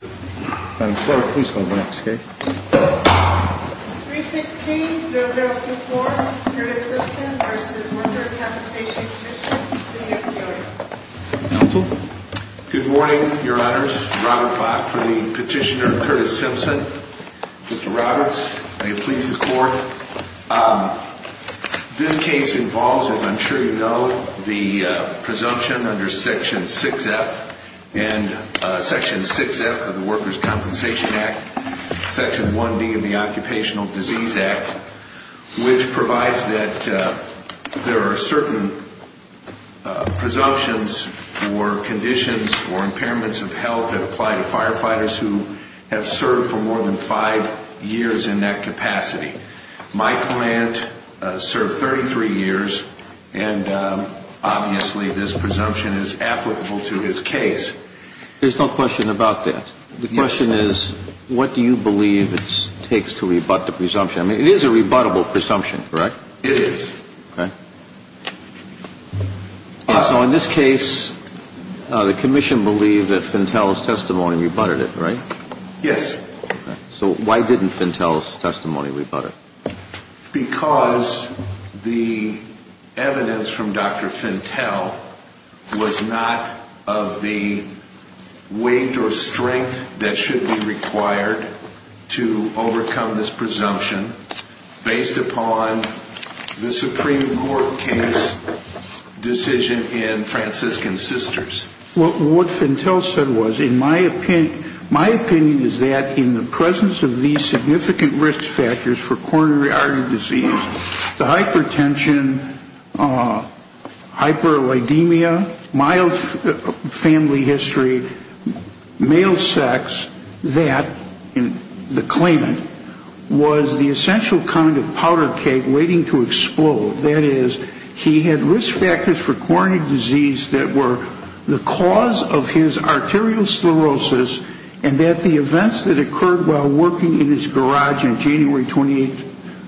316-0024, Curtis Simpson v. Workers' Compensation Comm'n, City of Peoria. Counsel? Good morning, Your Honors. Robert Bach for the petitioner, Curtis Simpson. Mr. Roberts, may it please the Court. This case involves, as I'm sure you know, the presumption under Section 6F of the Workers' Compensation Act, Section 1B of the Occupational Disease Act, which provides that there are certain presumptions for conditions or impairments of health that apply to firefighters who have served for more than five years in that capacity. My client served 33 years, and obviously this presumption is applicable to his case. There's no question about that. The question is, what do you believe it takes to rebut the presumption? I mean, it is a rebuttable presumption, correct? It is. Okay. So in this case, the Commission believed that Fentel's testimony rebutted it, right? Yes. So why didn't Fentel's testimony rebut it? Because the evidence from Dr. Fentel was not of the weight or strength that should be required to overcome this presumption based upon the Supreme Court case decision in Franciscan Sisters. What Fentel said was, in my opinion, my opinion is that in the presence of these significant risk factors for coronary artery disease, the hypertension, hyperlidemia, mild family history, male sex, that, the claimant, was the essential kind of powder keg waiting to explode. That is, he had risk factors for coronary disease that were the cause of his arteriosclerosis, and that the events that occurred while working in his garage in January 12,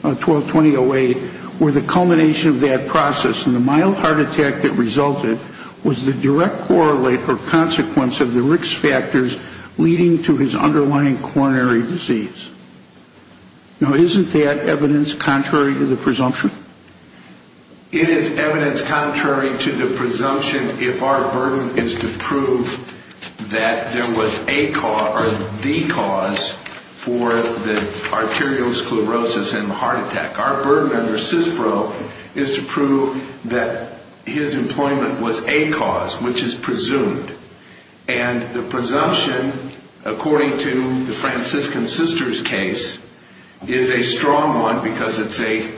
2008, were the culmination of that process. And the mild heart attack that resulted was the direct correlate or consequence of the risk factors leading to his underlying coronary disease. Now, isn't that evidence contrary to the presumption? It is evidence contrary to the presumption if our burden is to prove that there was a cause or the cause for the arteriosclerosis and the heart attack. Our burden under CISPRO is to prove that his employment was a cause, which is presumed. And the presumption, according to the Franciscan Sisters case, is a strong one because it's a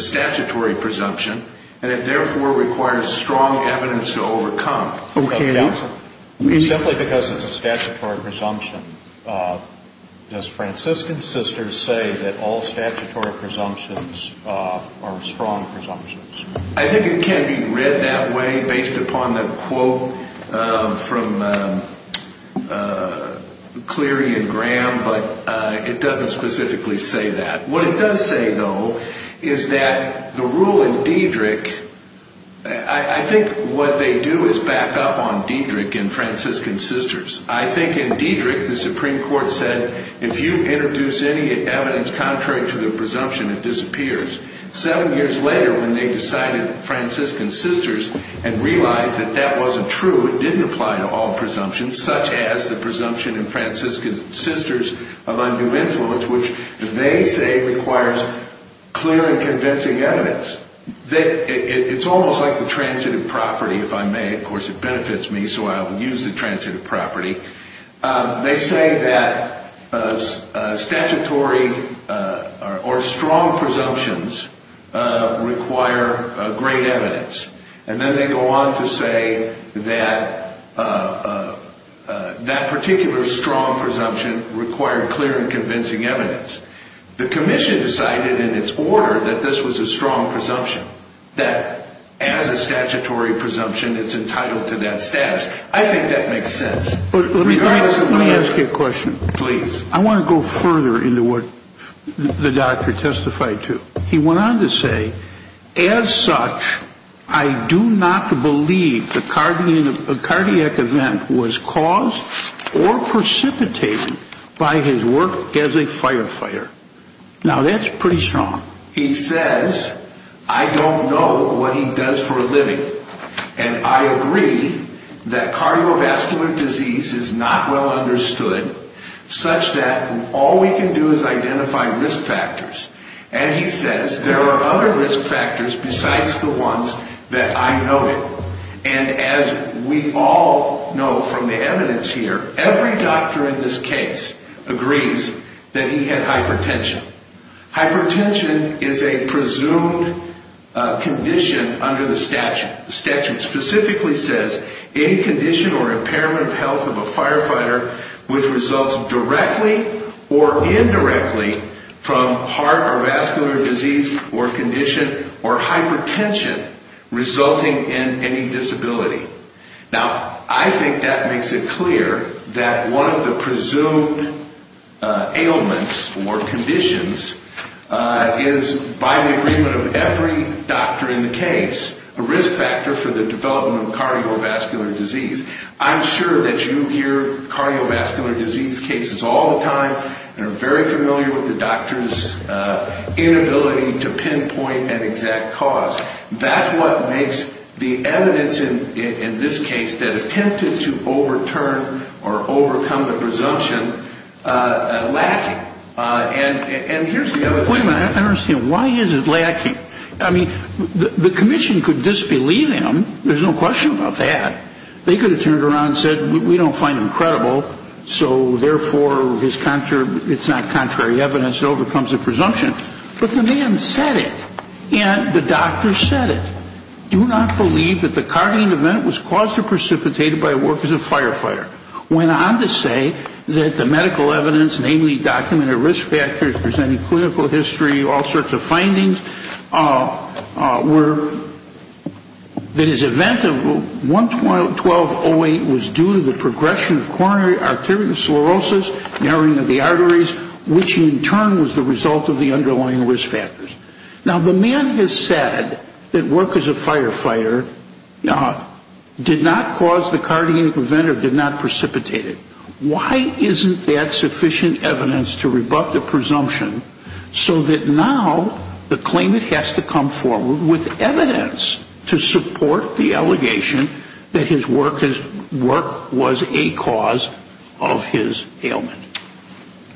statutory presumption, and it therefore requires strong evidence to overcome. Simply because it's a statutory presumption, does Franciscan Sisters say that all statutory presumptions are strong presumptions? I think it can be read that way based upon the quote from Cleary and Graham, but it doesn't specifically say that. What it does say, though, is that the rule in Diedrich, I think what they do is back up on Diedrich and Franciscan Sisters. I think in Diedrich, the Supreme Court said, if you introduce any evidence contrary to the presumption, it disappears. Seven years later, when they decided Franciscan Sisters and realized that that wasn't true, it didn't apply to all presumptions, such as the presumption in Franciscan Sisters of undue influence, which they say requires clear and convincing evidence. It's almost like the transitive property, if I may. Of course, it benefits me, so I'll use the transitive property. They say that statutory or strong presumptions require great evidence, and then they go on to say that that particular strong presumption required clear and convincing evidence. The Commission decided in its order that this was a strong presumption, that as a statutory presumption, it's entitled to that status. I think that makes sense. Let me ask you a question. Please. I want to go further into what the doctor testified to. He went on to say, as such, I do not believe the cardiac event was caused or precipitated by his work as a firefighter. Now, that's pretty strong. He says, I don't know what he does for a living, and I agree that cardiovascular disease is not well understood such that all we can do is identify risk factors. And he says, there are other risk factors besides the ones that I know of. And as we all know from the evidence here, every doctor in this case agrees that he had hypertension. Hypertension is a presumed condition under the statute. The statute specifically says any condition or impairment of health of a firefighter which results directly or indirectly from heart or vascular disease or condition or hypertension resulting in any disability. Now, I think that makes it clear that one of the presumed ailments or conditions is, by the agreement of every doctor in the case, a risk factor for the development of cardiovascular disease. I'm sure that you hear cardiovascular disease cases all the time and are very familiar with the doctor's inability to pinpoint an exact cause. That's what makes the evidence in this case that attempted to overturn or overcome the presumption lacking. And here's the other thing. Wait a minute. I don't understand. Why is it lacking? I mean, the commission could disbelieve him. There's no question about that. They could have turned around and said, we don't find him credible, so therefore it's not contrary evidence that overcomes the presumption. But the man said it. And the doctor said it. Do not believe that the cognitive event was caused or precipitated by a work as a firefighter. Went on to say that the medical evidence, namely documented risk factors presenting clinical history, all sorts of findings, were that his event of 1-12-08 was due to the progression of coronary arteriosclerosis, narrowing of the arteries, which in turn was the result of the underlying risk factors. Now, the man has said that work as a firefighter did not cause the cardiac event or did not precipitate it. Why isn't that sufficient evidence to rebut the presumption so that now the claimant has to come forward with evidence to support the allegation that his work was a cause of his ailment?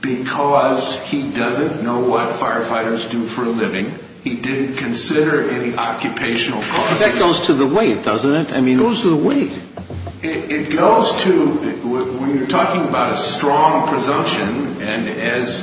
Because he doesn't know what firefighters do for a living. He didn't consider any occupational causes. That goes to the weight, doesn't it? It goes to the weight. It goes to, when you're talking about a strong presumption, and as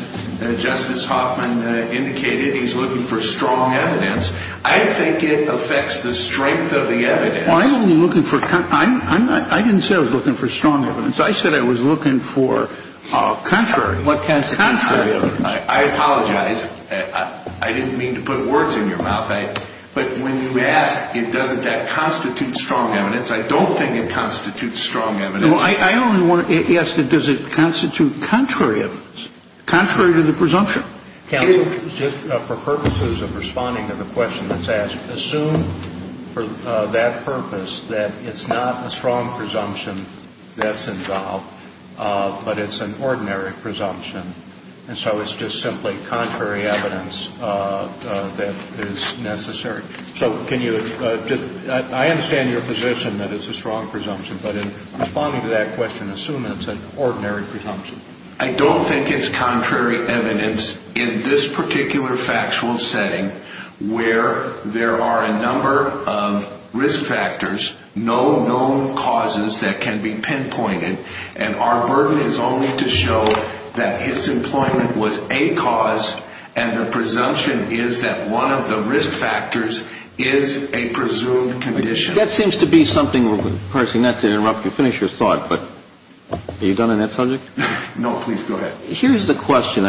Justice Hoffman indicated, he's looking for strong evidence. I think it affects the strength of the evidence. I'm only looking for, I didn't say I was looking for strong evidence. I said I was looking for contrary, contrary evidence. I apologize. I didn't mean to put words in your mouth. But when you ask, doesn't that constitute strong evidence, I don't think it constitutes strong evidence. I only want to ask, does it constitute contrary evidence, contrary to the presumption? Counsel, just for purposes of responding to the question that's asked, assume for that purpose that it's not a strong presumption that's involved, but it's an ordinary presumption. And so it's just simply contrary evidence that is necessary. So can you just, I understand your position that it's a strong presumption, but in responding to that question, assume it's an ordinary presumption. I don't think it's contrary evidence in this particular factual setting where there are a number of risk factors, no known causes that can be pinpointed, and our burden is only to show that his employment was a cause and the presumption is that one of the risk factors is a presumed condition. That seems to be something, Percy, not to interrupt you, finish your thought, but are you done on that subject? No, please go ahead. Here's the question.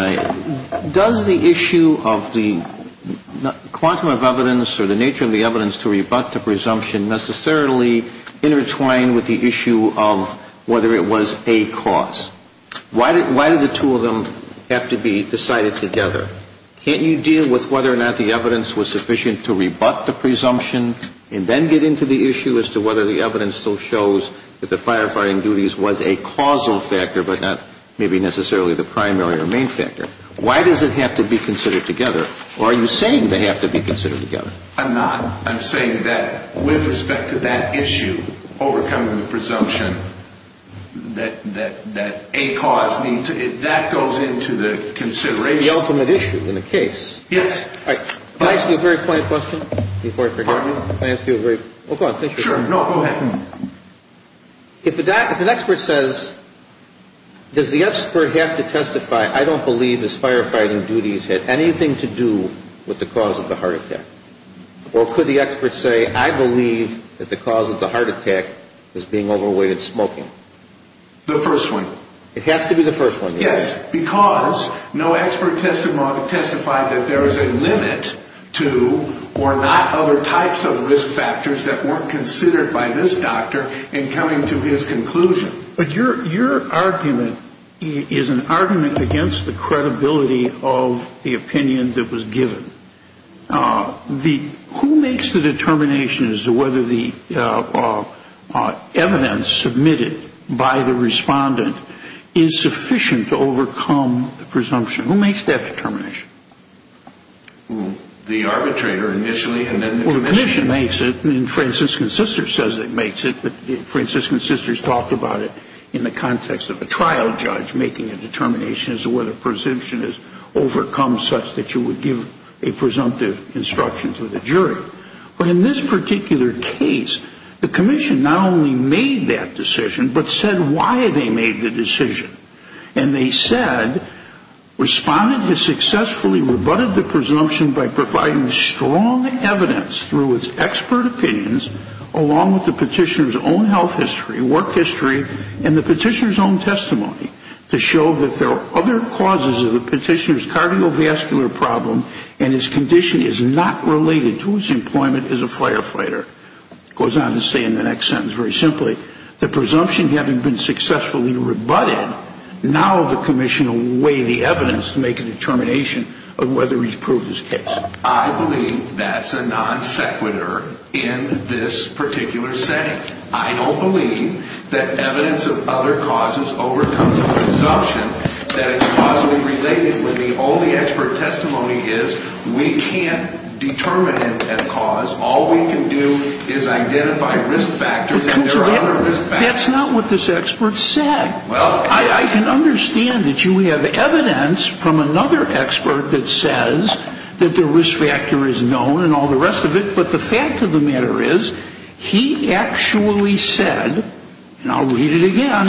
Does the issue of the quantum of evidence or the nature of the evidence to rebut the presumption necessarily intertwine with the issue of whether it was a cause? Why did the two of them have to be decided together? Can't you deal with whether or not the evidence was sufficient to rebut the presumption and then get into the issue as to whether the evidence still shows that the firefighting duties was a causal factor but not maybe necessarily the primary or main factor? Why does it have to be considered together? Or are you saying they have to be considered together? I'm not. I'm saying that with respect to that issue, overcoming the presumption that a cause needs to be, that goes into the consideration. The ultimate issue in the case. Yes. All right. Can I ask you a very plain question before I forget? Pardon me? Can I ask you a very, well, go on, finish your thought. Sure. No, go ahead. If an expert says, does the expert have to testify, I don't believe this firefighting duties had anything to do with the cause of the heart attack? Or could the expert say, I believe that the cause of the heart attack is being overweighted smoking? The first one. It has to be the first one. Yes, because no expert testified that there is a limit to or not other types of risk factors that weren't considered by this doctor in coming to his conclusion. But your argument is an argument against the credibility of the opinion that was given. Who makes the determination as to whether the evidence submitted by the respondent is sufficient to overcome the presumption? Who makes that determination? The arbitrator initially and then the commission. Well, the commission makes it, and Franciscan Sisters says it makes it, but Franciscan Sisters talked about it in the context of a trial judge making a determination as to whether a presumption is overcome such that you would give a presumptive instruction to the jury. But in this particular case, the commission not only made that decision, but said why they made the decision. And they said respondent has successfully rebutted the presumption by providing strong evidence through its expert opinions along with the petitioner's own health history, work history, and the petitioner's own testimony to show that there are other causes of the petitioner's cardiovascular problem and his condition is not related to his employment as a firefighter. It goes on to say in the next sentence very simply, the presumption having been successfully rebutted, now the commission will weigh the evidence to make a determination of whether he's proved his case. I believe that's a non sequitur in this particular setting. I don't believe that evidence of other causes overcomes a presumption that it's causally related when the only expert testimony is we can't determine a cause. All we can do is identify risk factors and there are other risk factors. That's not what this expert said. I can understand that you have evidence from another expert that says that the risk factor is known and all the rest of it, but the fact of the matter is he actually said, and I'll read it again,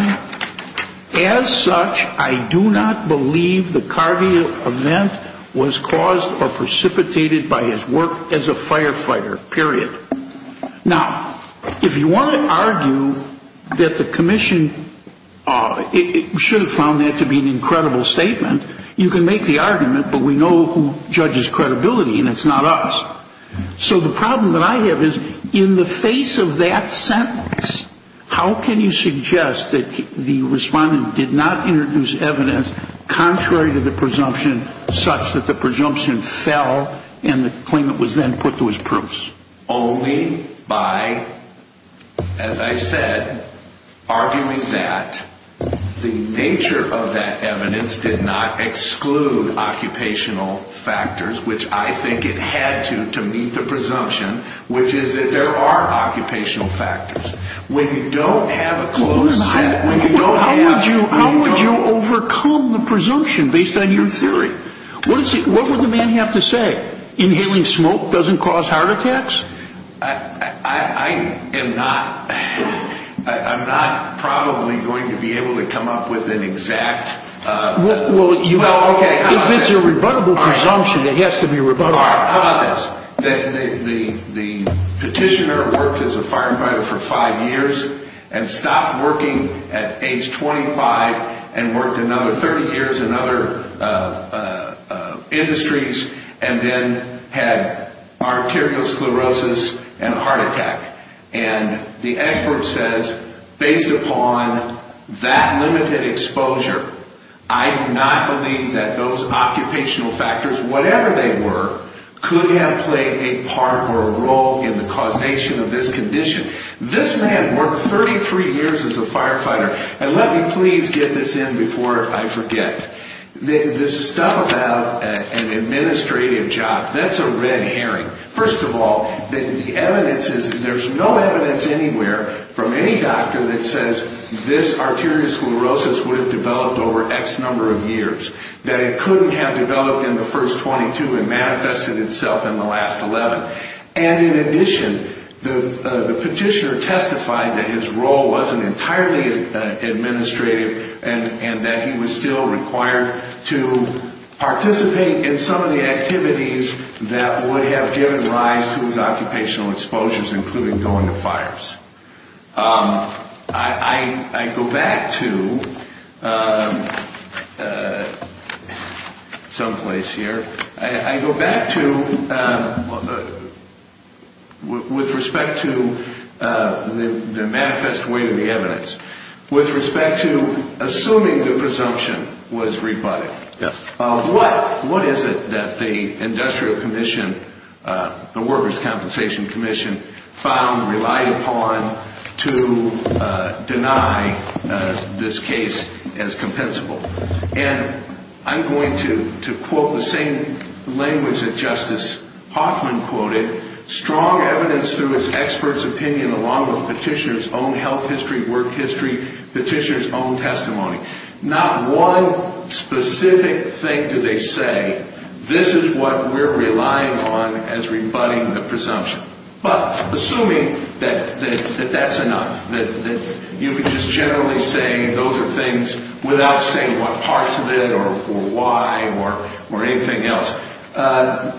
as such, I do not believe the cardio event was caused or precipitated by his work as a firefighter, period. Now, if you want to argue that the commission should have found that to be an incredible statement, you can make the argument, but we know who judges credibility and it's not us. So the problem that I have is in the face of that sentence, how can you suggest that the respondent did not introduce evidence contrary to the presumption such that the presumption fell and the claimant was then put to his proofs? Only by, as I said, arguing that the nature of that evidence did not exclude occupational factors, which I think it had to, to meet the presumption, which is that there are occupational factors. When you don't have a closed sentence, when you don't have... How would you overcome the presumption based on your theory? What would the man have to say? Inhaling smoke doesn't cause heart attacks? I am not probably going to be able to come up with an exact... If it's a rebuttable presumption, it has to be rebuttable. How about this? The petitioner worked as a firefighter for five years and stopped working at age 25 and worked another 30 years in other industries and then had arteriosclerosis and a heart attack. And the expert says, based upon that limited exposure, I do not believe that those occupational factors, whatever they were, could have played a part or a role in the causation of this condition. This man worked 33 years as a firefighter. And let me please get this in before I forget. This stuff about an administrative job, that's a red herring. First of all, there's no evidence anywhere from any doctor that says this arteriosclerosis would have developed over X number of years, that it couldn't have developed in the first 22 and manifested itself in the last 11. And in addition, the petitioner testified that his role wasn't entirely administrative and that he was still required to participate in some of the activities that would have given rise to his occupational exposures, including going to fires. I go back to some place here. I go back to with respect to the manifest way to the evidence. With respect to assuming the presumption was rebutted, what is it that the Industrial Commission, the Workers' Compensation Commission, found, relied upon to deny this case as compensable? And I'm going to quote the same language that Justice Hoffman quoted, strong evidence through its expert's opinion along with petitioner's own health history, work history, petitioner's own testimony. Not one specific thing do they say, this is what we're relying on as rebutting the presumption. But assuming that that's enough, that you can just generally say those are things without saying what parts of it or why or anything else,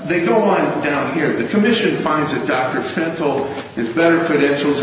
they go on down here. The Commission finds that Dr. Fentel is better credentialed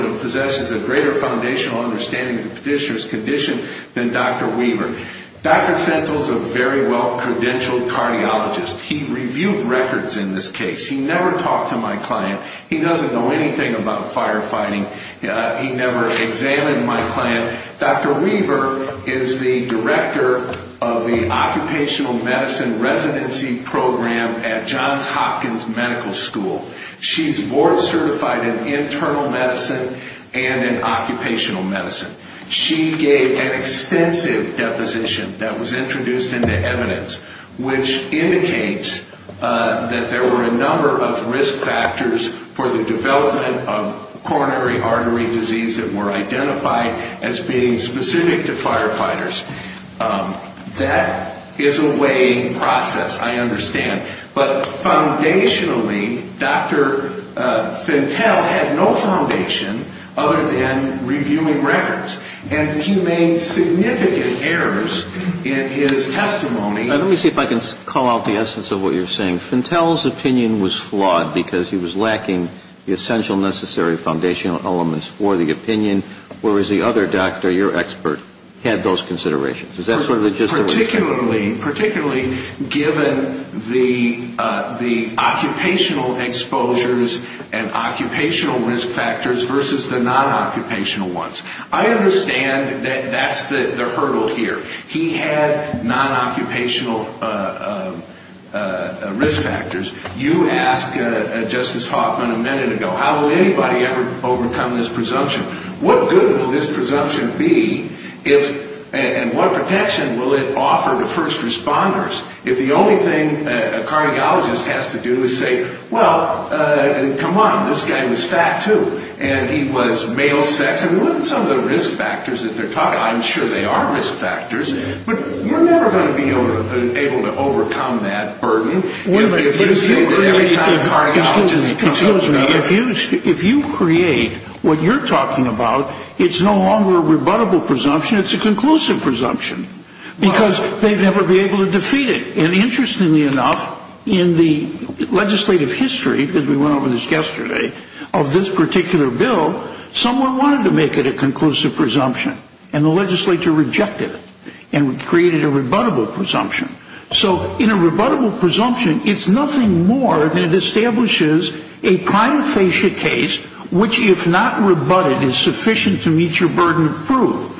and possesses a greater foundational understanding of the petitioner's condition than Dr. Weaver. Dr. Fentel is a very well credentialed cardiologist. He reviewed records in this case. He never talked to my client. He doesn't know anything about firefighting. He never examined my client. Dr. Weaver is the director of the Occupational Medicine Residency Program at Johns Hopkins Medical School. She's board certified in internal medicine and in occupational medicine. She gave an extensive deposition that was introduced into evidence, which indicates that there were a number of risk factors for the development of coronary artery disease that were identified as being specific to firefighters. That is a weighing process, I understand. But foundationally, Dr. Fentel had no foundation other than reviewing records. And he made significant errors in his testimony. Let me see if I can call out the essence of what you're saying. You're saying Fentel's opinion was flawed because he was lacking the essential necessary foundational elements for the opinion, whereas the other doctor, your expert, had those considerations. Is that sort of just the reason? Particularly given the occupational exposures and occupational risk factors versus the non-occupational ones. I understand that that's the hurdle here. He had non-occupational risk factors. You asked Justice Hoffman a minute ago, how will anybody ever overcome this presumption? What good will this presumption be and what protection will it offer to first responders if the only thing a cardiologist has to do is say, well, come on, this guy was fat too. And he was male sex. I'm sure there are risk factors, but we're never going to be able to overcome that burden. If you create what you're talking about, it's no longer a rebuttable presumption, it's a conclusive presumption. Because they'd never be able to defeat it. And interestingly enough, in the legislative history, as we went over this yesterday, of this particular bill, someone wanted to make it a conclusive presumption, and the legislature rejected it and created a rebuttable presumption. So in a rebuttable presumption, it's nothing more than it establishes a prima facie case, which if not rebutted is sufficient to meet your burden of proof.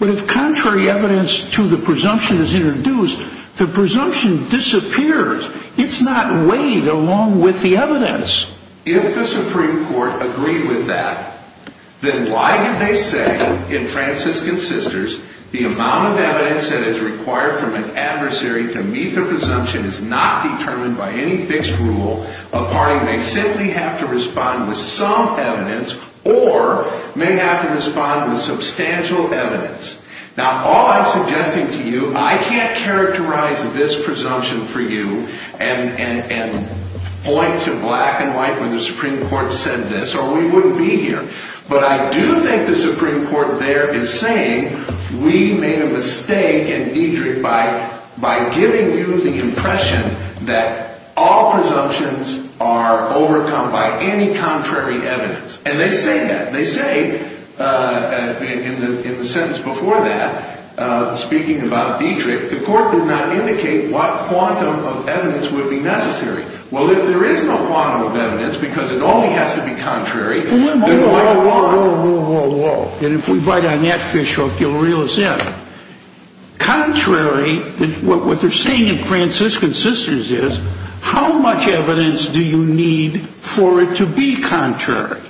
But if contrary evidence to the presumption is introduced, the presumption disappears. It's not weighed along with the evidence. If the Supreme Court agreed with that, then why did they say, in Franciscan Sisters, the amount of evidence that is required from an adversary to meet the presumption is not determined by any fixed rule. A party may simply have to respond with some evidence or may have to respond with substantial evidence. Now, all I'm suggesting to you, I can't characterize this presumption for you and point to black and white where the Supreme Court said this or we wouldn't be here. But I do think the Supreme Court there is saying we made a mistake in Diedrich by giving you the impression that all presumptions are overcome by any contrary evidence. And they say that. They say in the sentence before that, speaking about Diedrich, the court did not indicate what quantum of evidence would be necessary. Well, if there is no quantum of evidence because it only has to be contrary. Whoa, whoa, whoa, whoa, whoa, whoa. And if we bite on that fishhook, you'll realize that. Contrary, what they're saying in Franciscan Sisters is, how much evidence do you need for it to be contrary?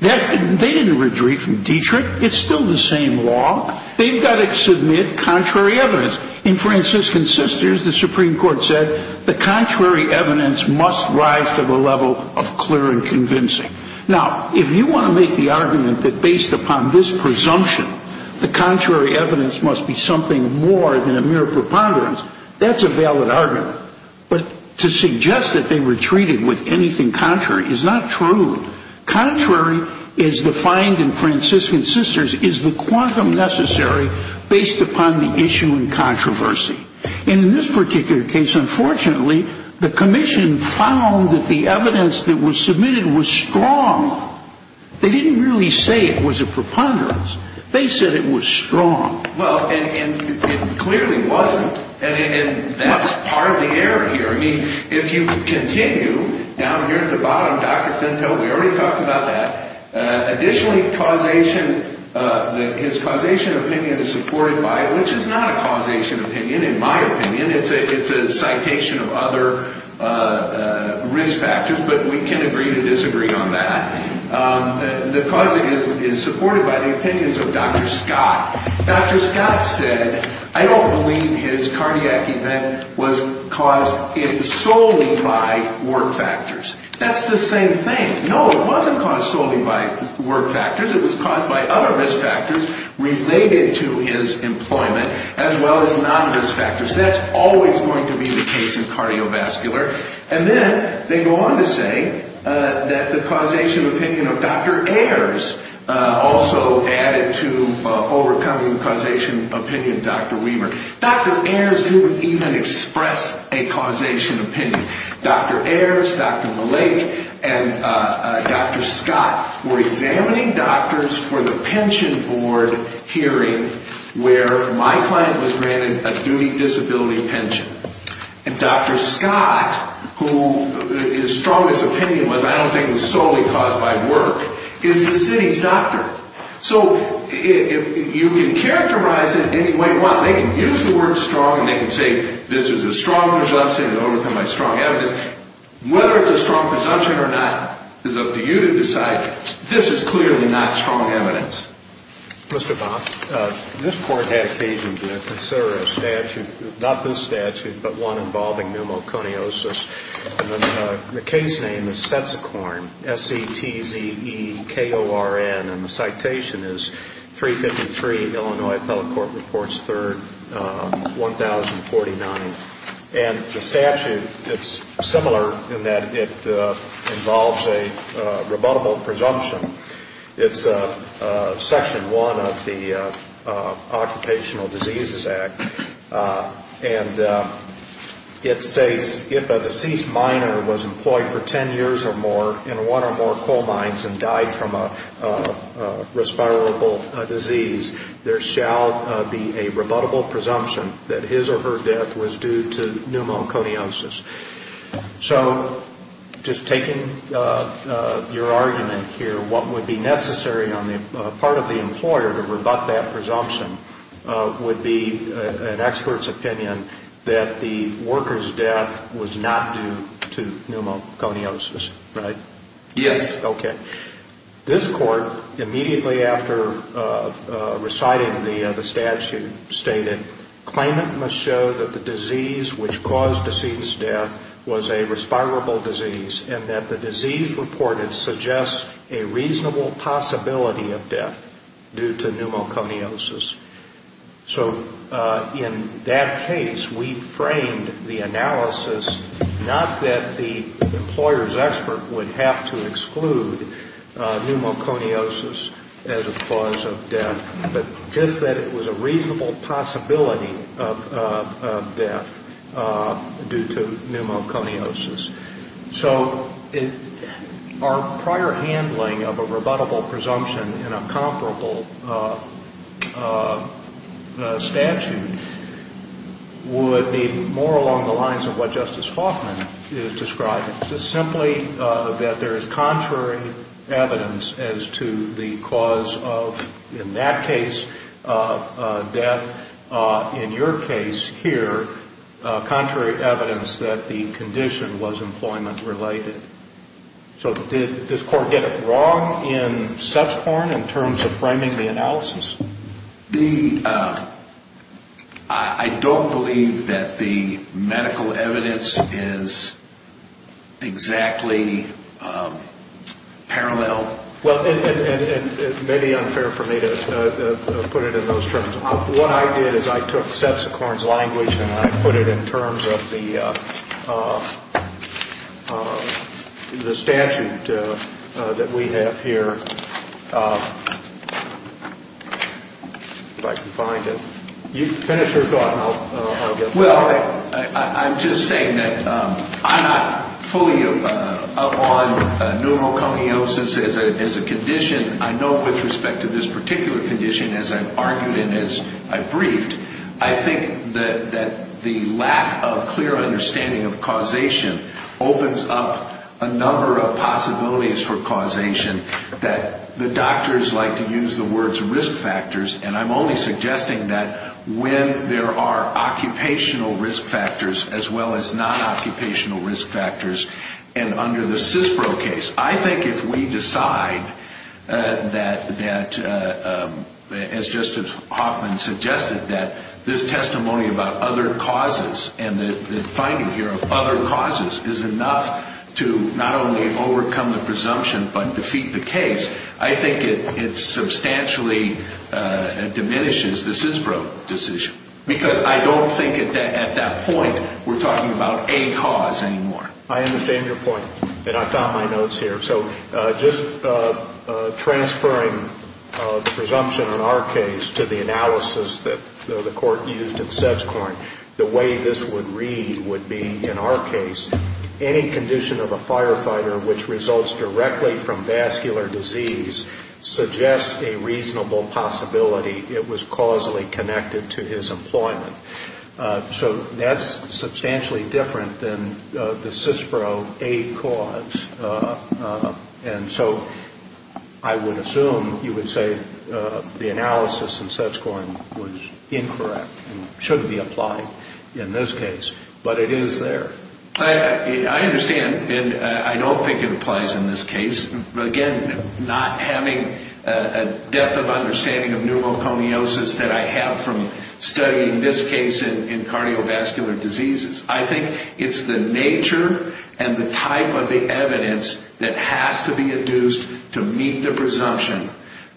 They didn't retreat from Diedrich. It's still the same law. They've got to submit contrary evidence. In Franciscan Sisters, the Supreme Court said the contrary evidence must rise to the level of clear and convincing. Now, if you want to make the argument that based upon this presumption, the contrary evidence must be something more than a mere preponderance, that's a valid argument. But to suggest that they retreated with anything contrary is not true. Contrary is defined in Franciscan Sisters is the quantum necessary based upon the issue in controversy. In this particular case, unfortunately, the commission found that the evidence that was submitted was strong. They didn't really say it was a preponderance. They said it was strong. Well, and it clearly wasn't. And that's part of the error here. I mean, if you continue down here at the bottom, Dr. Finto, we already talked about that. Additionally, his causation opinion is supported by, which is not a causation opinion, in my opinion. It's a citation of other risk factors, but we can agree to disagree on that. The causation is supported by the opinions of Dr. Scott. Dr. Scott said, I don't believe his cardiac event was caused solely by wart factors. That's the same thing. No, it wasn't caused solely by wart factors. It was caused by other risk factors related to his employment as well as non-risk factors. That's always going to be the case in cardiovascular. And then they go on to say that the causation opinion of Dr. Ayers also added to overcoming the causation opinion of Dr. Weaver. Dr. Ayers didn't even express a causation opinion. Dr. Ayers, Dr. Malak, and Dr. Scott were examining doctors for the pension board hearing where my client was granted a duty disability pension. And Dr. Scott, who his strongest opinion was, I don't think it was solely caused by work, is the city's doctor. So you can characterize it any way you want. They can use the word strong, and they can say this is a strong presumption, it was overcome by strong evidence. Whether it's a strong presumption or not is up to you to decide. This is clearly not strong evidence. Mr. Bond, this Court had occasion to consider a statute, not this statute, but one involving pneumoconiosis. And the case name is SETZORN, S-E-T-Z-E-K-O-R-N. And the citation is 353 Illinois Appellate Court Reports 3rd, 1049. And the statute, it's similar in that it involves a rebuttable presumption. It's Section 1 of the Occupational Diseases Act. And it states, if a deceased miner was employed for 10 years or more in one or more coal mines and died from a respirable disease, there shall be a rebuttable presumption that his or her death was due to pneumoconiosis. So just taking your argument here, what would be necessary on the part of the employer to rebut that presumption would be an expert's opinion that the worker's death was not due to pneumoconiosis, right? Yes. Okay. This Court, immediately after reciting the statute, stated, claimant must show that the disease which caused deceased's death was a respirable disease and that the disease reported suggests a reasonable possibility of death due to pneumoconiosis. So in that case, we framed the analysis not that the employer's expert would have to exclude pneumoconiosis as a cause of death, but just that it was a reasonable possibility of death due to pneumoconiosis. So our prior handling of a rebuttable presumption in a comparable statute would be more along the lines of what Justice Hoffman is describing, just simply that there is contrary evidence as to the cause of, in that case, death. In your case here, contrary evidence that the condition was employment-related. So did this Court get it wrong in such form in terms of framing the analysis? I don't believe that the medical evidence is exactly parallel. Well, and it may be unfair for me to put it in those terms, but what I did is I took Seppsicorn's language and I put it in terms of the statute that we have here. If I can find it. Finish your thought and I'll get back to you. So I'm just saying that I'm not fully up on pneumoconiosis as a condition. I know with respect to this particular condition, as I've argued and as I've briefed, I think that the lack of clear understanding of causation opens up a number of possibilities for causation that the doctors like to use the words risk factors, and I'm only suggesting that when there are occupational risk factors as well as non-occupational risk factors. And under the CISPRO case, I think if we decide that, as Justice Hoffman suggested, that this testimony about other causes and the finding here of other causes is enough to not only overcome the presumption but defeat the case, I think it substantially diminishes the CISPRO decision. Because I don't think at that point we're talking about a cause anymore. I understand your point, and I've got my notes here. So just transferring presumption in our case to the analysis that the court used in Seppsicorn, the way this would read would be, in our case, any condition of a firefighter which results directly from vascular disease suggests a reasonable possibility it was causally connected to his employment. So that's substantially different than the CISPRO aid cause. And so I would assume you would say the analysis in Seppsicorn was incorrect and shouldn't be applied in this case, but it is there. I understand, and I don't think it applies in this case. Again, not having a depth of understanding of pneumoconiosis that I have from studying this case in cardiovascular diseases. I think it's the nature and the type of the evidence that has to be induced to meet the presumption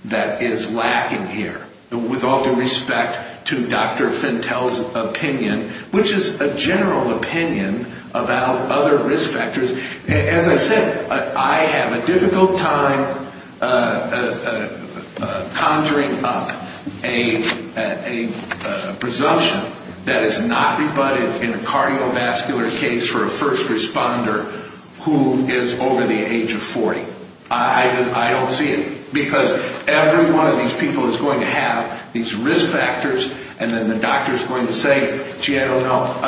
that is lacking here. With all due respect to Dr. Fentel's opinion, which is a general opinion about other risk factors, as I said, I have a difficult time conjuring up a presumption that is not rebutted in a cardiovascular case for a first responder who is over the age of 40. I don't see it. Because every one of these people is going to have these risk factors, and then the doctor is going to say, gee, I don't know.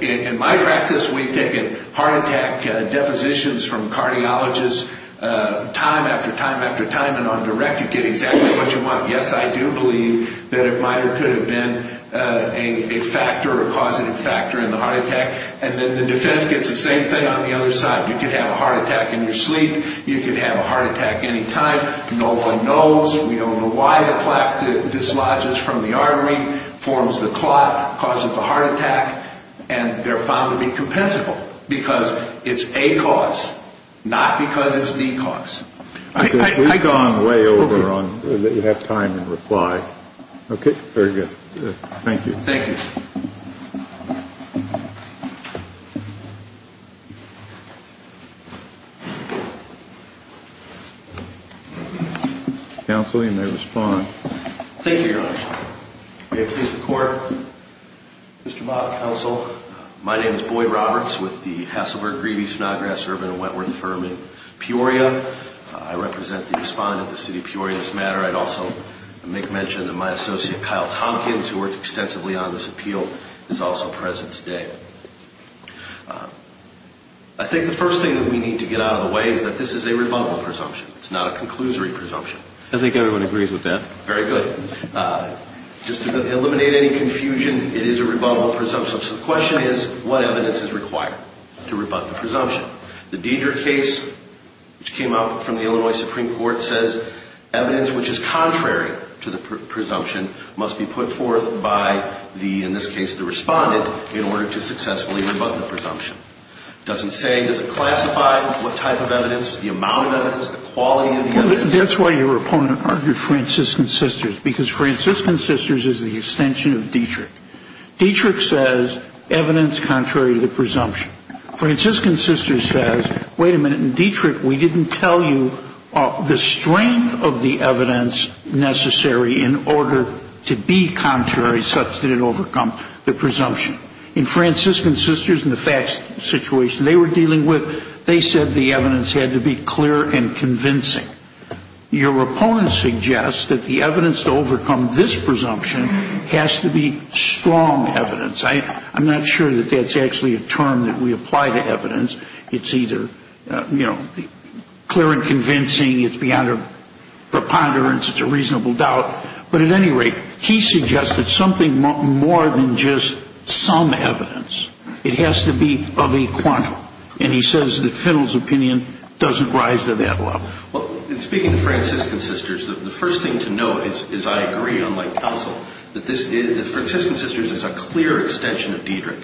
In my practice, we've taken heart attack depositions from cardiologists time after time after time, and on direct you get exactly what you want. Yes, I do believe that a minor could have been a factor or causative factor in the heart attack, and then the defense gets the same thing on the other side. You could have a heart attack in your sleep. You could have a heart attack any time. No one knows. We don't know why the plaque dislodges from the artery, forms the clot, causes the heart attack, and they're found to be compensable because it's a cause, not because it's the cause. We've gone way over on that you have time and reply. Okay, very good. Thank you. Thank you. Thank you, Your Honor. May it please the Court. Mr. Mott, counsel, my name is Boyd Roberts with the Hasselberg, Grebe, Snodgrass, Urban, and Wentworth firm in Peoria. I represent the respondent of the city of Peoria in this matter. I'd also make mention that my associate Kyle Tompkins, who worked extensively on this appeal, is also present today. I think the first thing that we need to get out of the way is that this is a rebuttal presumption. It's not a conclusory presumption. I think everyone agrees with that. Very good. Just to eliminate any confusion, it is a rebuttal presumption. So the question is, what evidence is required to rebut the presumption? The Deder case, which came out from the Illinois Supreme Court, says evidence which is contrary to the presumption must be put forth by the, in this case, the respondent in order to successfully rebut the presumption. It doesn't say, it doesn't classify what type of evidence, the amount of evidence, the quality of the evidence. That's why your opponent argued Franciscan Sisters, because Franciscan Sisters is the extension of Dietrich. Dietrich says evidence contrary to the presumption. Franciscan Sisters says, wait a minute, in Dietrich we didn't tell you the strength of the evidence necessary in order to be contrary such that it overcome the presumption. In Franciscan Sisters, in the facts situation they were dealing with, they said the evidence had to be clear and convincing. Your opponent suggests that the evidence to overcome this presumption has to be strong evidence. I'm not sure that that's actually a term that we apply to evidence. It's either, you know, clear and convincing, it's beyond a preponderance, it's a reasonable doubt. But at any rate, he suggested something more than just some evidence. It has to be of a quantum. And he says that Fiddle's opinion doesn't rise to that level. Well, in speaking to Franciscan Sisters, the first thing to note is I agree, unlike Cousil, that this is, that Franciscan Sisters is a clear extension of Dietrich.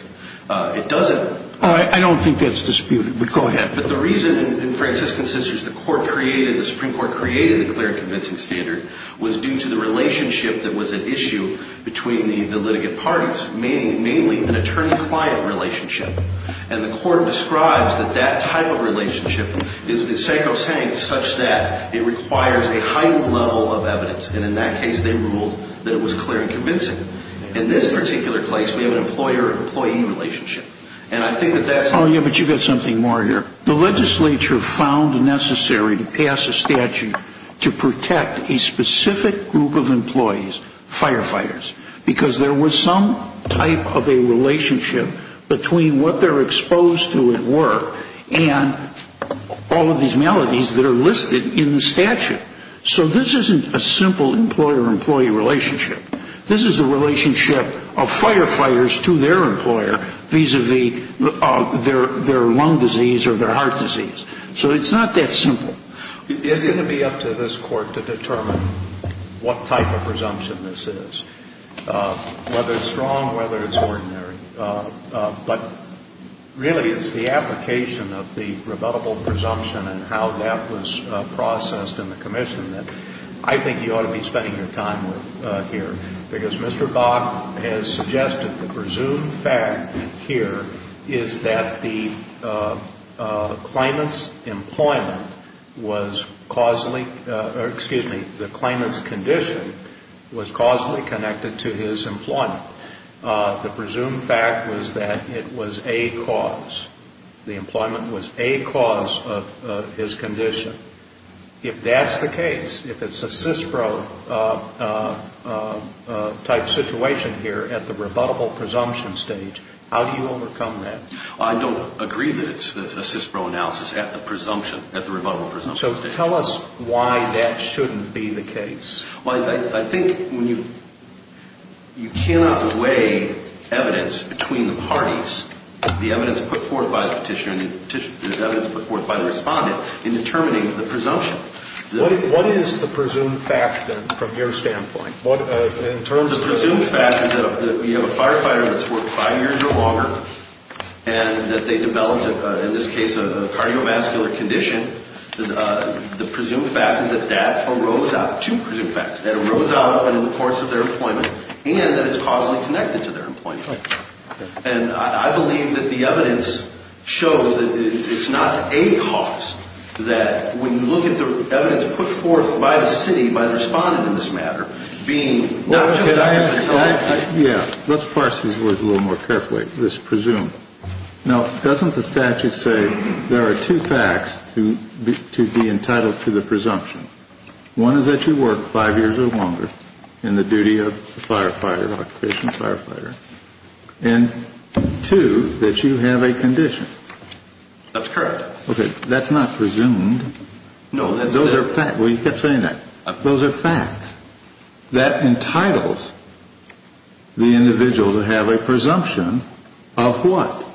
It doesn't. I don't think that's disputed, but go ahead. But the reason in Franciscan Sisters the Court created, the Supreme Court created the clear and convincing standard was due to the relationship that was at issue between the litigant parties, mainly an attorney-client relationship. And the Court describes that that type of relationship is sacrosanct such that it requires a high level of evidence. And in that case, they ruled that it was clear and convincing. In this particular case, we have an employer-employee relationship. Oh, yeah, but you've got something more here. The legislature found necessary to pass a statute to protect a specific group of employees, firefighters, because there was some type of a relationship between what they're exposed to at work and all of these maladies that are listed in the statute. So this isn't a simple employer-employee relationship. This is a relationship of firefighters to their employer vis-à-vis their lung disease or their heart disease. So it's not that simple. It's going to be up to this Court to determine what type of presumption this is, whether it's strong, whether it's ordinary. But really, it's the application of the rebuttable presumption and how that was processed in the commission that I think you ought to be spending your time with here. Because Mr. Bach has suggested the presumed fact here is that the claimant's employment was causally or, excuse me, the claimant's condition was causally connected to his employment. The presumed fact was that it was a cause. The employment was a cause of his condition. If that's the case, if it's a CISPRO-type situation here at the rebuttable presumption stage, how do you overcome that? I don't agree that it's a CISPRO analysis at the presumption, at the rebuttable presumption stage. So tell us why that shouldn't be the case. Well, I think you cannot weigh evidence between the parties, the evidence put forth by the petitioner and the evidence put forth by the respondent, in determining the presumption. What is the presumed fact, then, from your standpoint? The presumed fact is that you have a firefighter that's worked five years or longer and that they developed, in this case, a cardiovascular condition. The presumed fact is that that arose out. Two presumed facts. That it arose out in the course of their employment and that it's causally connected to their employment. And I believe that the evidence shows that it's not a cause, that when you look at the evidence put forth by the city, by the respondent in this matter, being not just a cause. Yeah, let's parse these words a little more carefully, this presumed. Now, doesn't the statute say there are two facts to be entitled to the presumption? One is that you worked five years or longer in the duty of firefighter, occupational firefighter. And two, that you have a condition. That's correct. Okay, that's not presumed. No, that's not. Those are facts. Well, you kept saying that. Those are facts. That entitles the individual to have a presumption of what?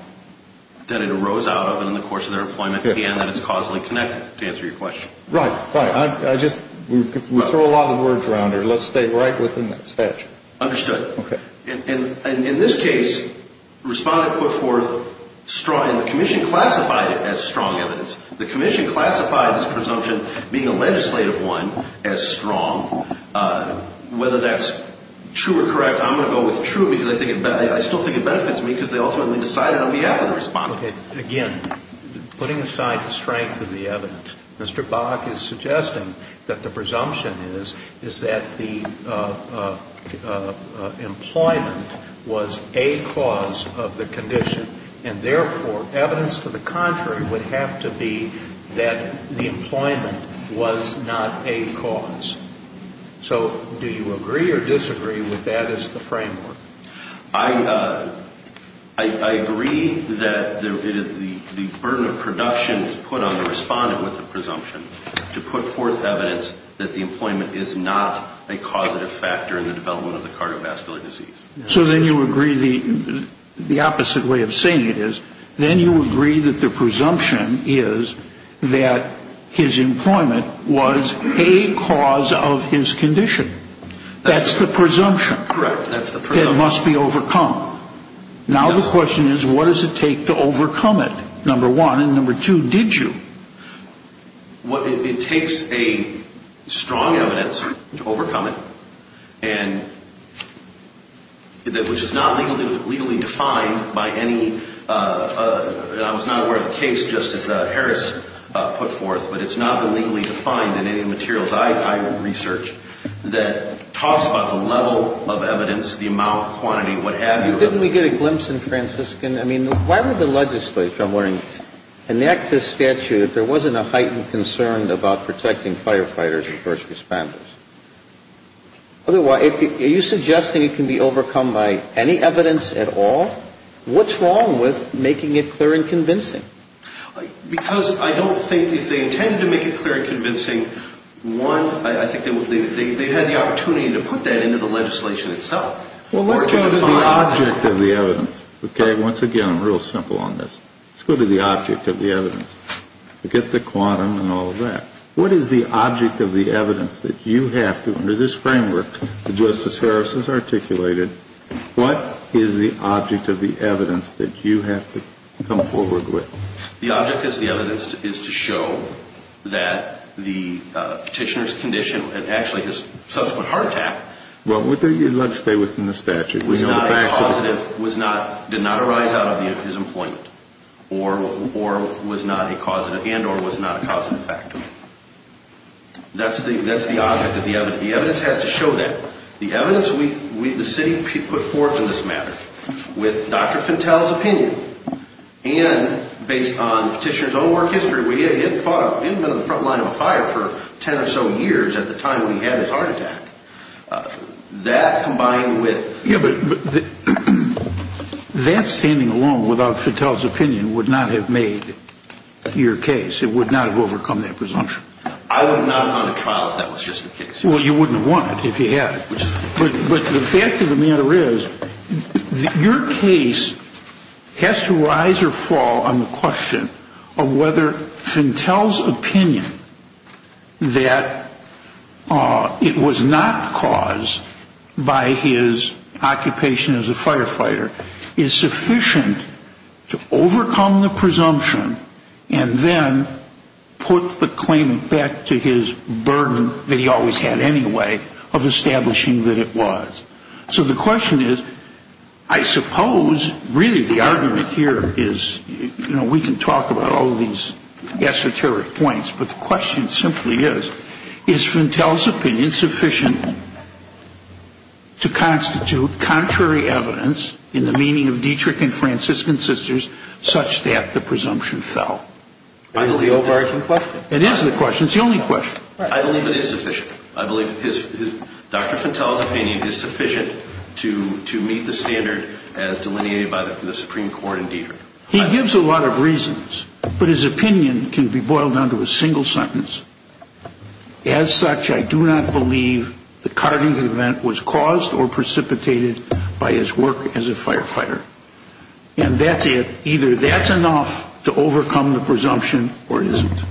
That it arose out of and in the course of their employment and that it's causally connected, to answer your question. Right, right. I just, we throw a lot of words around here. Let's stay right within that statute. Understood. Okay. And in this case, respondent put forth strong, and the commission classified it as strong evidence. The commission classified this presumption, being a legislative one, as strong. Whether that's true or correct, I'm going to go with true, because I still think it benefits me, because they ultimately decided on behalf of the respondent. Okay. Again, putting aside the strength of the evidence, Mr. Bach is suggesting that the presumption is, is that the employment was a cause of the condition, and therefore evidence to the contrary would have to be that the employment was not a cause. So do you agree or disagree with that as the framework? I agree that the burden of production is put on the respondent with the presumption to put forth evidence that the employment is not a causative factor in the development of the cardiovascular disease. So then you agree the opposite way of saying it is, then you agree that the presumption is that his employment was a cause of his condition. That's the presumption. Correct. That's the presumption. It must be overcome. Now the question is, what does it take to overcome it, number one, and number two, did you? It takes a strong evidence to overcome it, and which is not legally defined by any, I was not aware of the case Justice Harris put forth, but it's not legally defined in any of the materials I research that talks about the level of evidence, the amount, quantity, what have you. Didn't we get a glimpse in Franciscan, I mean, why would the legislature, I'm wondering, enact this statute if there wasn't a heightened concern about protecting firefighters and first responders? Are you suggesting it can be overcome by any evidence at all? What's wrong with making it clear and convincing? Because I don't think if they intended to make it clear and convincing, one, I think they had the opportunity to put that into the legislation itself. Well, let's go to the object of the evidence, okay? Once again, I'm real simple on this. Let's go to the object of the evidence. Forget the quantum and all of that. What is the object of the evidence that you have to, under this framework that Justice Harris has articulated, what is the object of the evidence that you have to come forward with? The object of the evidence is to show that the petitioner's condition and actually his subsequent heart attack. Well, let's stay within the statute. Was not a causative, did not arise out of his employment and or was not a causative factor. That's the object of the evidence. The evidence has to show that. The evidence we, the city put forth in this matter with Dr. Fittell's opinion and based on petitioner's own work history where he hadn't been on the front line of a fire for 10 or so years at the time when he had his heart attack. That combined with... Yeah, but that standing alone without Fittell's opinion would not have made your case. It would not have overcome that presumption. I would not have gone to trial if that was just the case. Well, you wouldn't have won it if you had. But the fact of the matter is that your case has to rise or fall on the question of whether Fittell's opinion that it was not caused by his occupation as a firefighter is sufficient to overcome the presumption and then put the claim back to his burden that he always had in his mind. So the question is, I suppose, really the argument here is, you know, we can talk about all of these esoteric points, but the question simply is, is Fittell's opinion sufficient to constitute contrary evidence in the meaning of Dietrich and Franciscan sisters such that the presumption fell? That is the overarching question. It is the question. It's the only question. I believe it is sufficient. I believe Dr. Fittell's opinion is sufficient to meet the standard as delineated by the Supreme Court in Dietrich. He gives a lot of reasons, but his opinion can be boiled down to a single sentence. As such, I do not believe the carding event was caused or precipitated by his work as a firefighter. And that's it. Either that's enough to overcome the presumption or it isn't.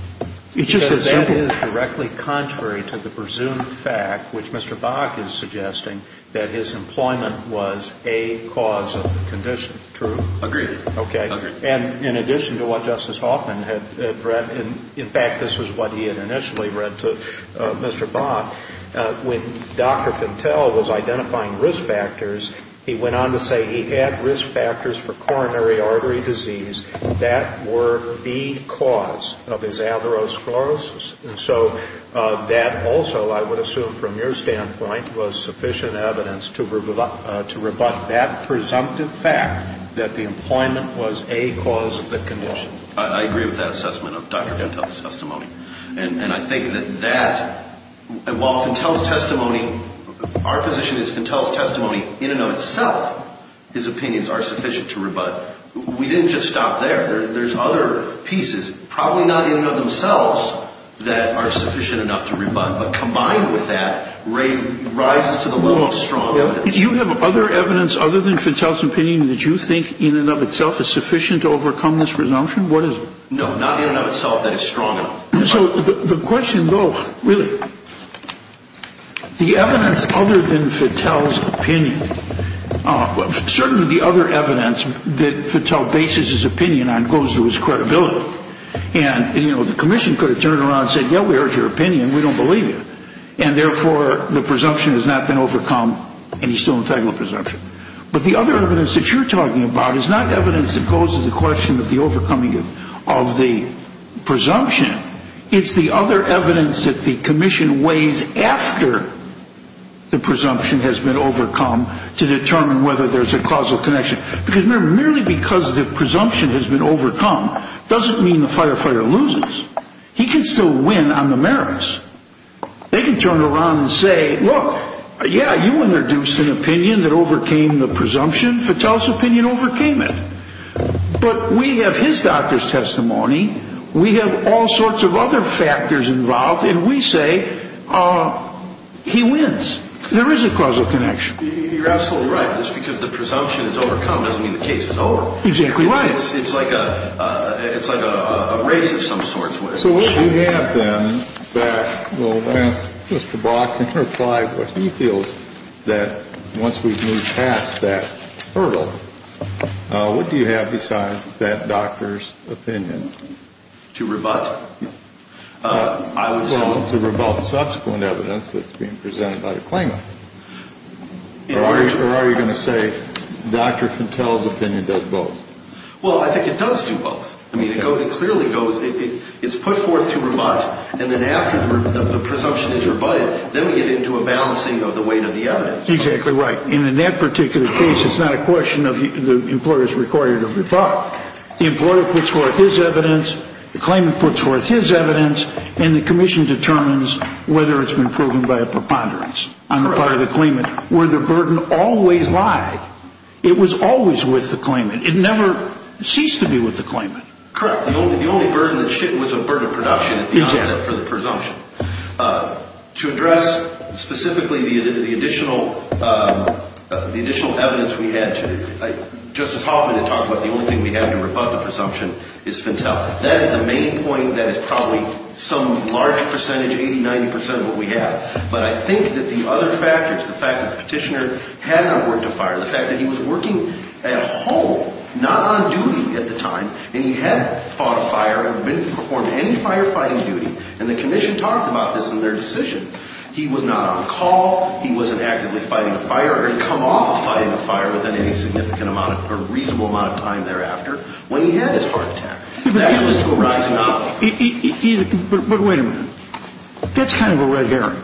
Because that is directly contrary to the presumed fact, which Mr. Bach is suggesting, that his employment was a cause of the condition. True? Agreed. Okay. And in addition to what Justice Hoffman had read, in fact, this was what he had initially read to Mr. Bach, when Dr. Fittell was identifying risk factors, he went on to say he had risk factors for coronary artery disease that were the cause of his atherosclerosis. And so that also, I would assume from your standpoint, was sufficient evidence to rebut that presumptive fact that the employment was a cause of the condition. I agree with that assessment of Dr. Fittell's testimony. And I think that that, while Fittell's testimony, our position is Fittell's testimony in and of itself, his opinions are sufficient to rebut. We didn't just stop there. There's other pieces, probably not in and of themselves, that are sufficient enough to rebut. But combined with that, raises to the level of strong evidence. Do you have other evidence other than Fittell's opinion that you think in and of itself is sufficient to overcome this presumption? What is it? No, not in and of itself that is strong enough. So the question, though, really, the evidence other than Fittell's opinion, certainly the other evidence that Fittell bases his opinion on goes to his credibility. And, you know, the commission could have turned around and said, yeah, we heard your opinion, we don't believe you. And therefore, the presumption has not been overcome, and he's still entitled to a presumption. But the other evidence that you're talking about is not evidence that goes to the question of the overcoming of the presumption. It's the other evidence that the commission weighs after the presumption has been overcome to determine whether there's a causal connection. Because merely because the presumption has been overcome doesn't mean the firefighter loses. He can still win on the merits. They can turn around and say, look, yeah, you introduced an opinion that overcame the presumption. Fittell's opinion overcame it. But we have his doctor's testimony, we have all sorts of other factors involved, and we say he wins. There is a causal connection. You're absolutely right. Just because the presumption is overcome doesn't mean the case is over. Exactly right. It's like a race of some sort. So what do you have, then, that Mr. Brock can reply to what he feels that once we've moved past that hurdle, what do you have besides that doctor's opinion? To rebut? No. Well, to rebut subsequent evidence that's being presented by the claimant. Or are you going to say Dr. Fittell's opinion does both? Well, I think it does do both. I mean, it clearly goes, it's put forth to rebut, and then after the presumption is rebutted, then we get into a balancing of the weight of the evidence. Exactly right. And in that particular case, it's not a question of the employer's requirement to rebut. The employer puts forth his evidence, the claimant puts forth his evidence, and the commission determines whether it's been proven by a preponderance on the part of the claimant. Where the burden always lied. It was always with the claimant. It never ceased to be with the claimant. Correct. The only burden that was a burden of production at the onset for the presumption. To address specifically the additional evidence we had today, Justice Hoffman had talked about the only thing we had to rebut the presumption is Fittell. That is the main point that is probably some large percentage, 80, 90 percent of what we have. But I think that the other factors, the fact that the petitioner had not worked on fire, the fact that he was working at home, not on duty at the time, and he had fought a fire, had performed any firefighting duty, and the commission talked about this in their decision. He was not on call. He wasn't actively fighting a fire. He had come off of fighting a fire within any significant amount or reasonable amount of time thereafter when he had his heart attack. That was to a rise in obligation. But wait a minute. That's kind of a red herring.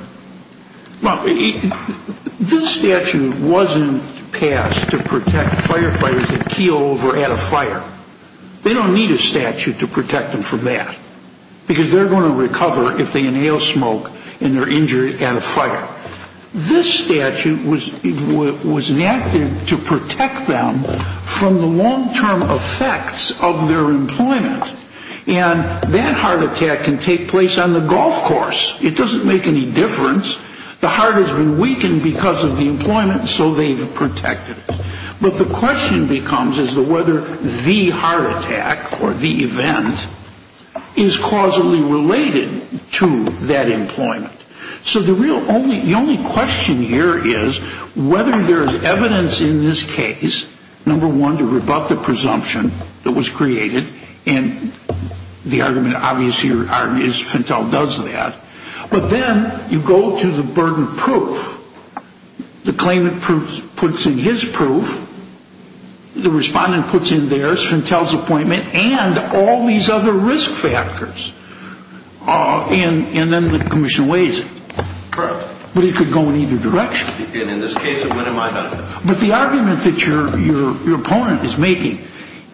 This statute wasn't passed to protect firefighters that keel over at a fire. They don't need a statute to protect them from that because they're going to recover if they inhale smoke and they're injured at a fire. This statute was enacted to protect them from the long-term effects of their employment. And that heart attack can take place on the golf course. It doesn't make any difference. The heart has been weakened because of the employment, so they've protected it. But the question becomes as to whether the heart attack or the event is causally related to that employment. So the only question here is whether there is evidence in this case, number one, to rebut the presumption that was created. And the argument obviously is Fentel does that. But then you go to the burden of proof. The claimant puts in his proof. The respondent puts in theirs, Fentel's appointment, and all these other risk factors. And then the commission weighs it. But it could go in either direction. But the argument that your opponent is making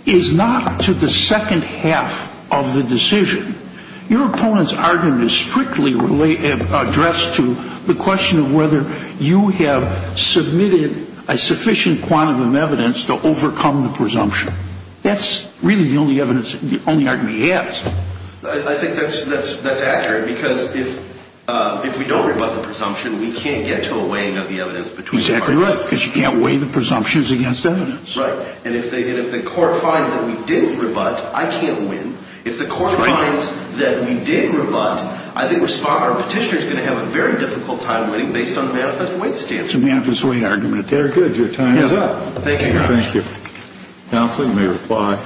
is not to the second half of the decision. Your opponent's argument is strictly addressed to the question of whether you have submitted a sufficient quantum of evidence to overcome the presumption. That's really the only argument he has. I think that's accurate because if we don't rebut the presumption, we can't get to a weighing of the evidence between the parties. Exactly right, because you can't weigh the presumptions against evidence. Right. And if the court finds that we didn't rebut, I can't win. If the court finds that we did rebut, I think our petitioner is going to have a very difficult time winning based on the manifest weight standard. It's a manifest weight argument. Very good. Your time is up. Thank you. Thank you. Counsel, you may reply.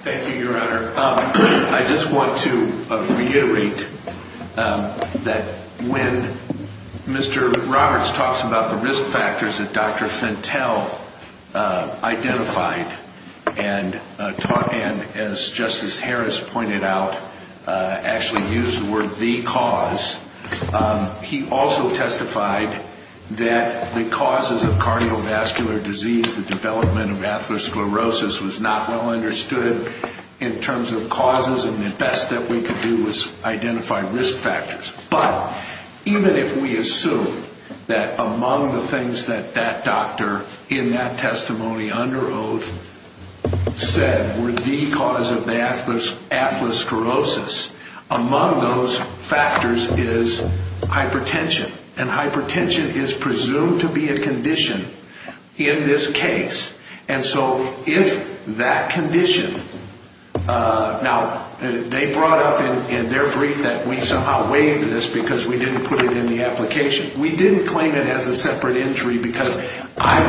Thank you, Your Honor. I just want to reiterate that when Mr. Roberts talks about the risk factors that Dr. Fentel identified and, as Justice Harris pointed out, actually used the word the cause, he also testified that the causes of cardiovascular disease, the development of atherosclerosis, was not well understood in terms of causes, and the best that we could do was identify risk factors. But even if we assume that among the things that that doctor in that testimony under oath said were the cause of the atherosclerosis, among those factors is hypertension, and hypertension is presumed to be a condition in this case. And so if that condition... Now, they brought up in their brief that we somehow waived this because we didn't put it in the application. We didn't claim it as a separate entry because I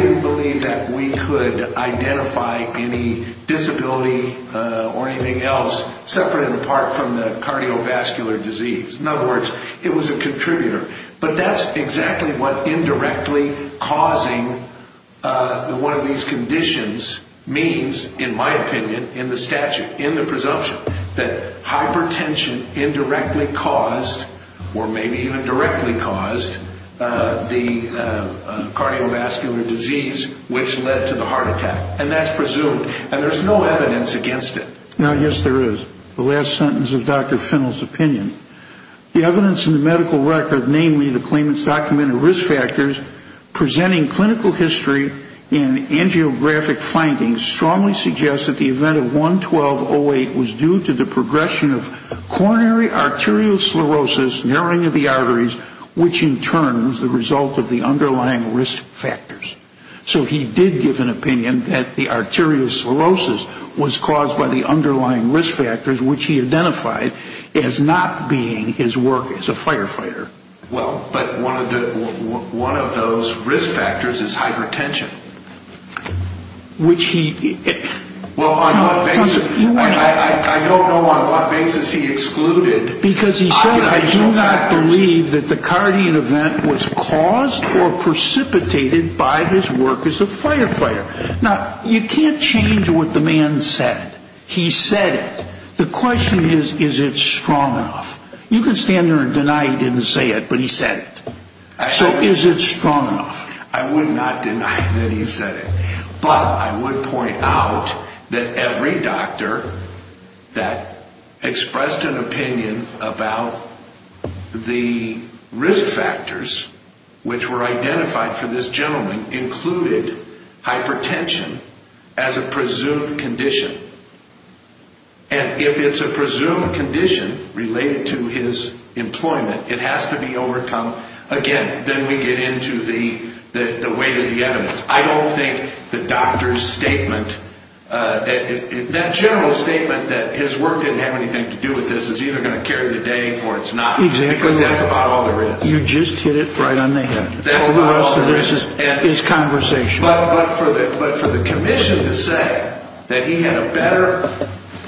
didn't believe that we could identify any disability or anything else separate and apart from the cardiovascular disease. In other words, it was a contributor. But that's exactly what indirectly causing one of these conditions means, in my opinion, in the statute, in the presumption, that hypertension indirectly caused or maybe even directly caused the cardiovascular disease which led to the heart attack. And that's presumed. And there's no evidence against it. Now, yes, there is. The last sentence of Dr. Fentel's opinion. The evidence in the medical record, namely the claimant's documented risk factors, presenting clinical history and angiographic findings strongly suggests that the event of 1-1208 was due to the progression of coronary arteriosclerosis, narrowing of the arteries, which in turn was the result of the underlying risk factors. So he did give an opinion that the arteriosclerosis was caused by the underlying risk factors, which he identified as not being his work as a firefighter. Well, but one of those risk factors is hypertension. Which he ‑‑ Well, on what basis? I don't know on what basis he excluded ideal factors. Because he said, I do not believe that the cardiac event was caused or precipitated by his work as a firefighter. Now, you can't change what the man said. He said it. The question is, is it strong enough? You can stand there and deny he didn't say it, but he said it. So is it strong enough? I would not deny that he said it. But I would point out that every doctor that expressed an opinion about the risk factors, which were identified for this gentleman, included hypertension as a presumed condition. And if it's a presumed condition related to his employment, it has to be overcome again. Then we get into the weight of the evidence. I don't think the doctor's statement, that general statement that his work didn't have anything to do with this, is either going to carry the day or it's not. Exactly. Because that's about all there is. You just hit it right on the head. That's about all there is. The rest of this is conversation. But for the commission to say that he had a better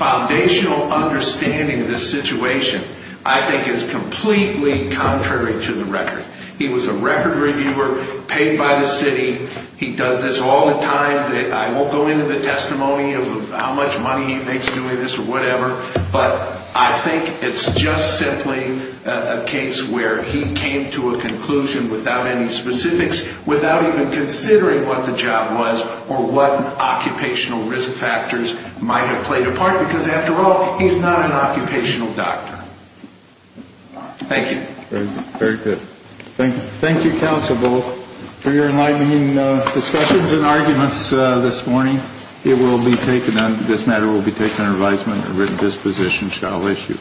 foundational understanding of this situation, I think is completely contrary to the record. He was a record reviewer, paid by the city. He does this all the time. I won't go into the testimony of how much money he makes doing this or whatever, but I think it's just simply a case where he came to a conclusion without any specifics, without even considering what the job was or what occupational risk factors might have played a part, because, after all, he's not an occupational doctor. Thank you. Very good. Thank you, counsel, both, for your enlightening discussions and arguments this morning. This matter will be taken under advisement and written disposition shall issue.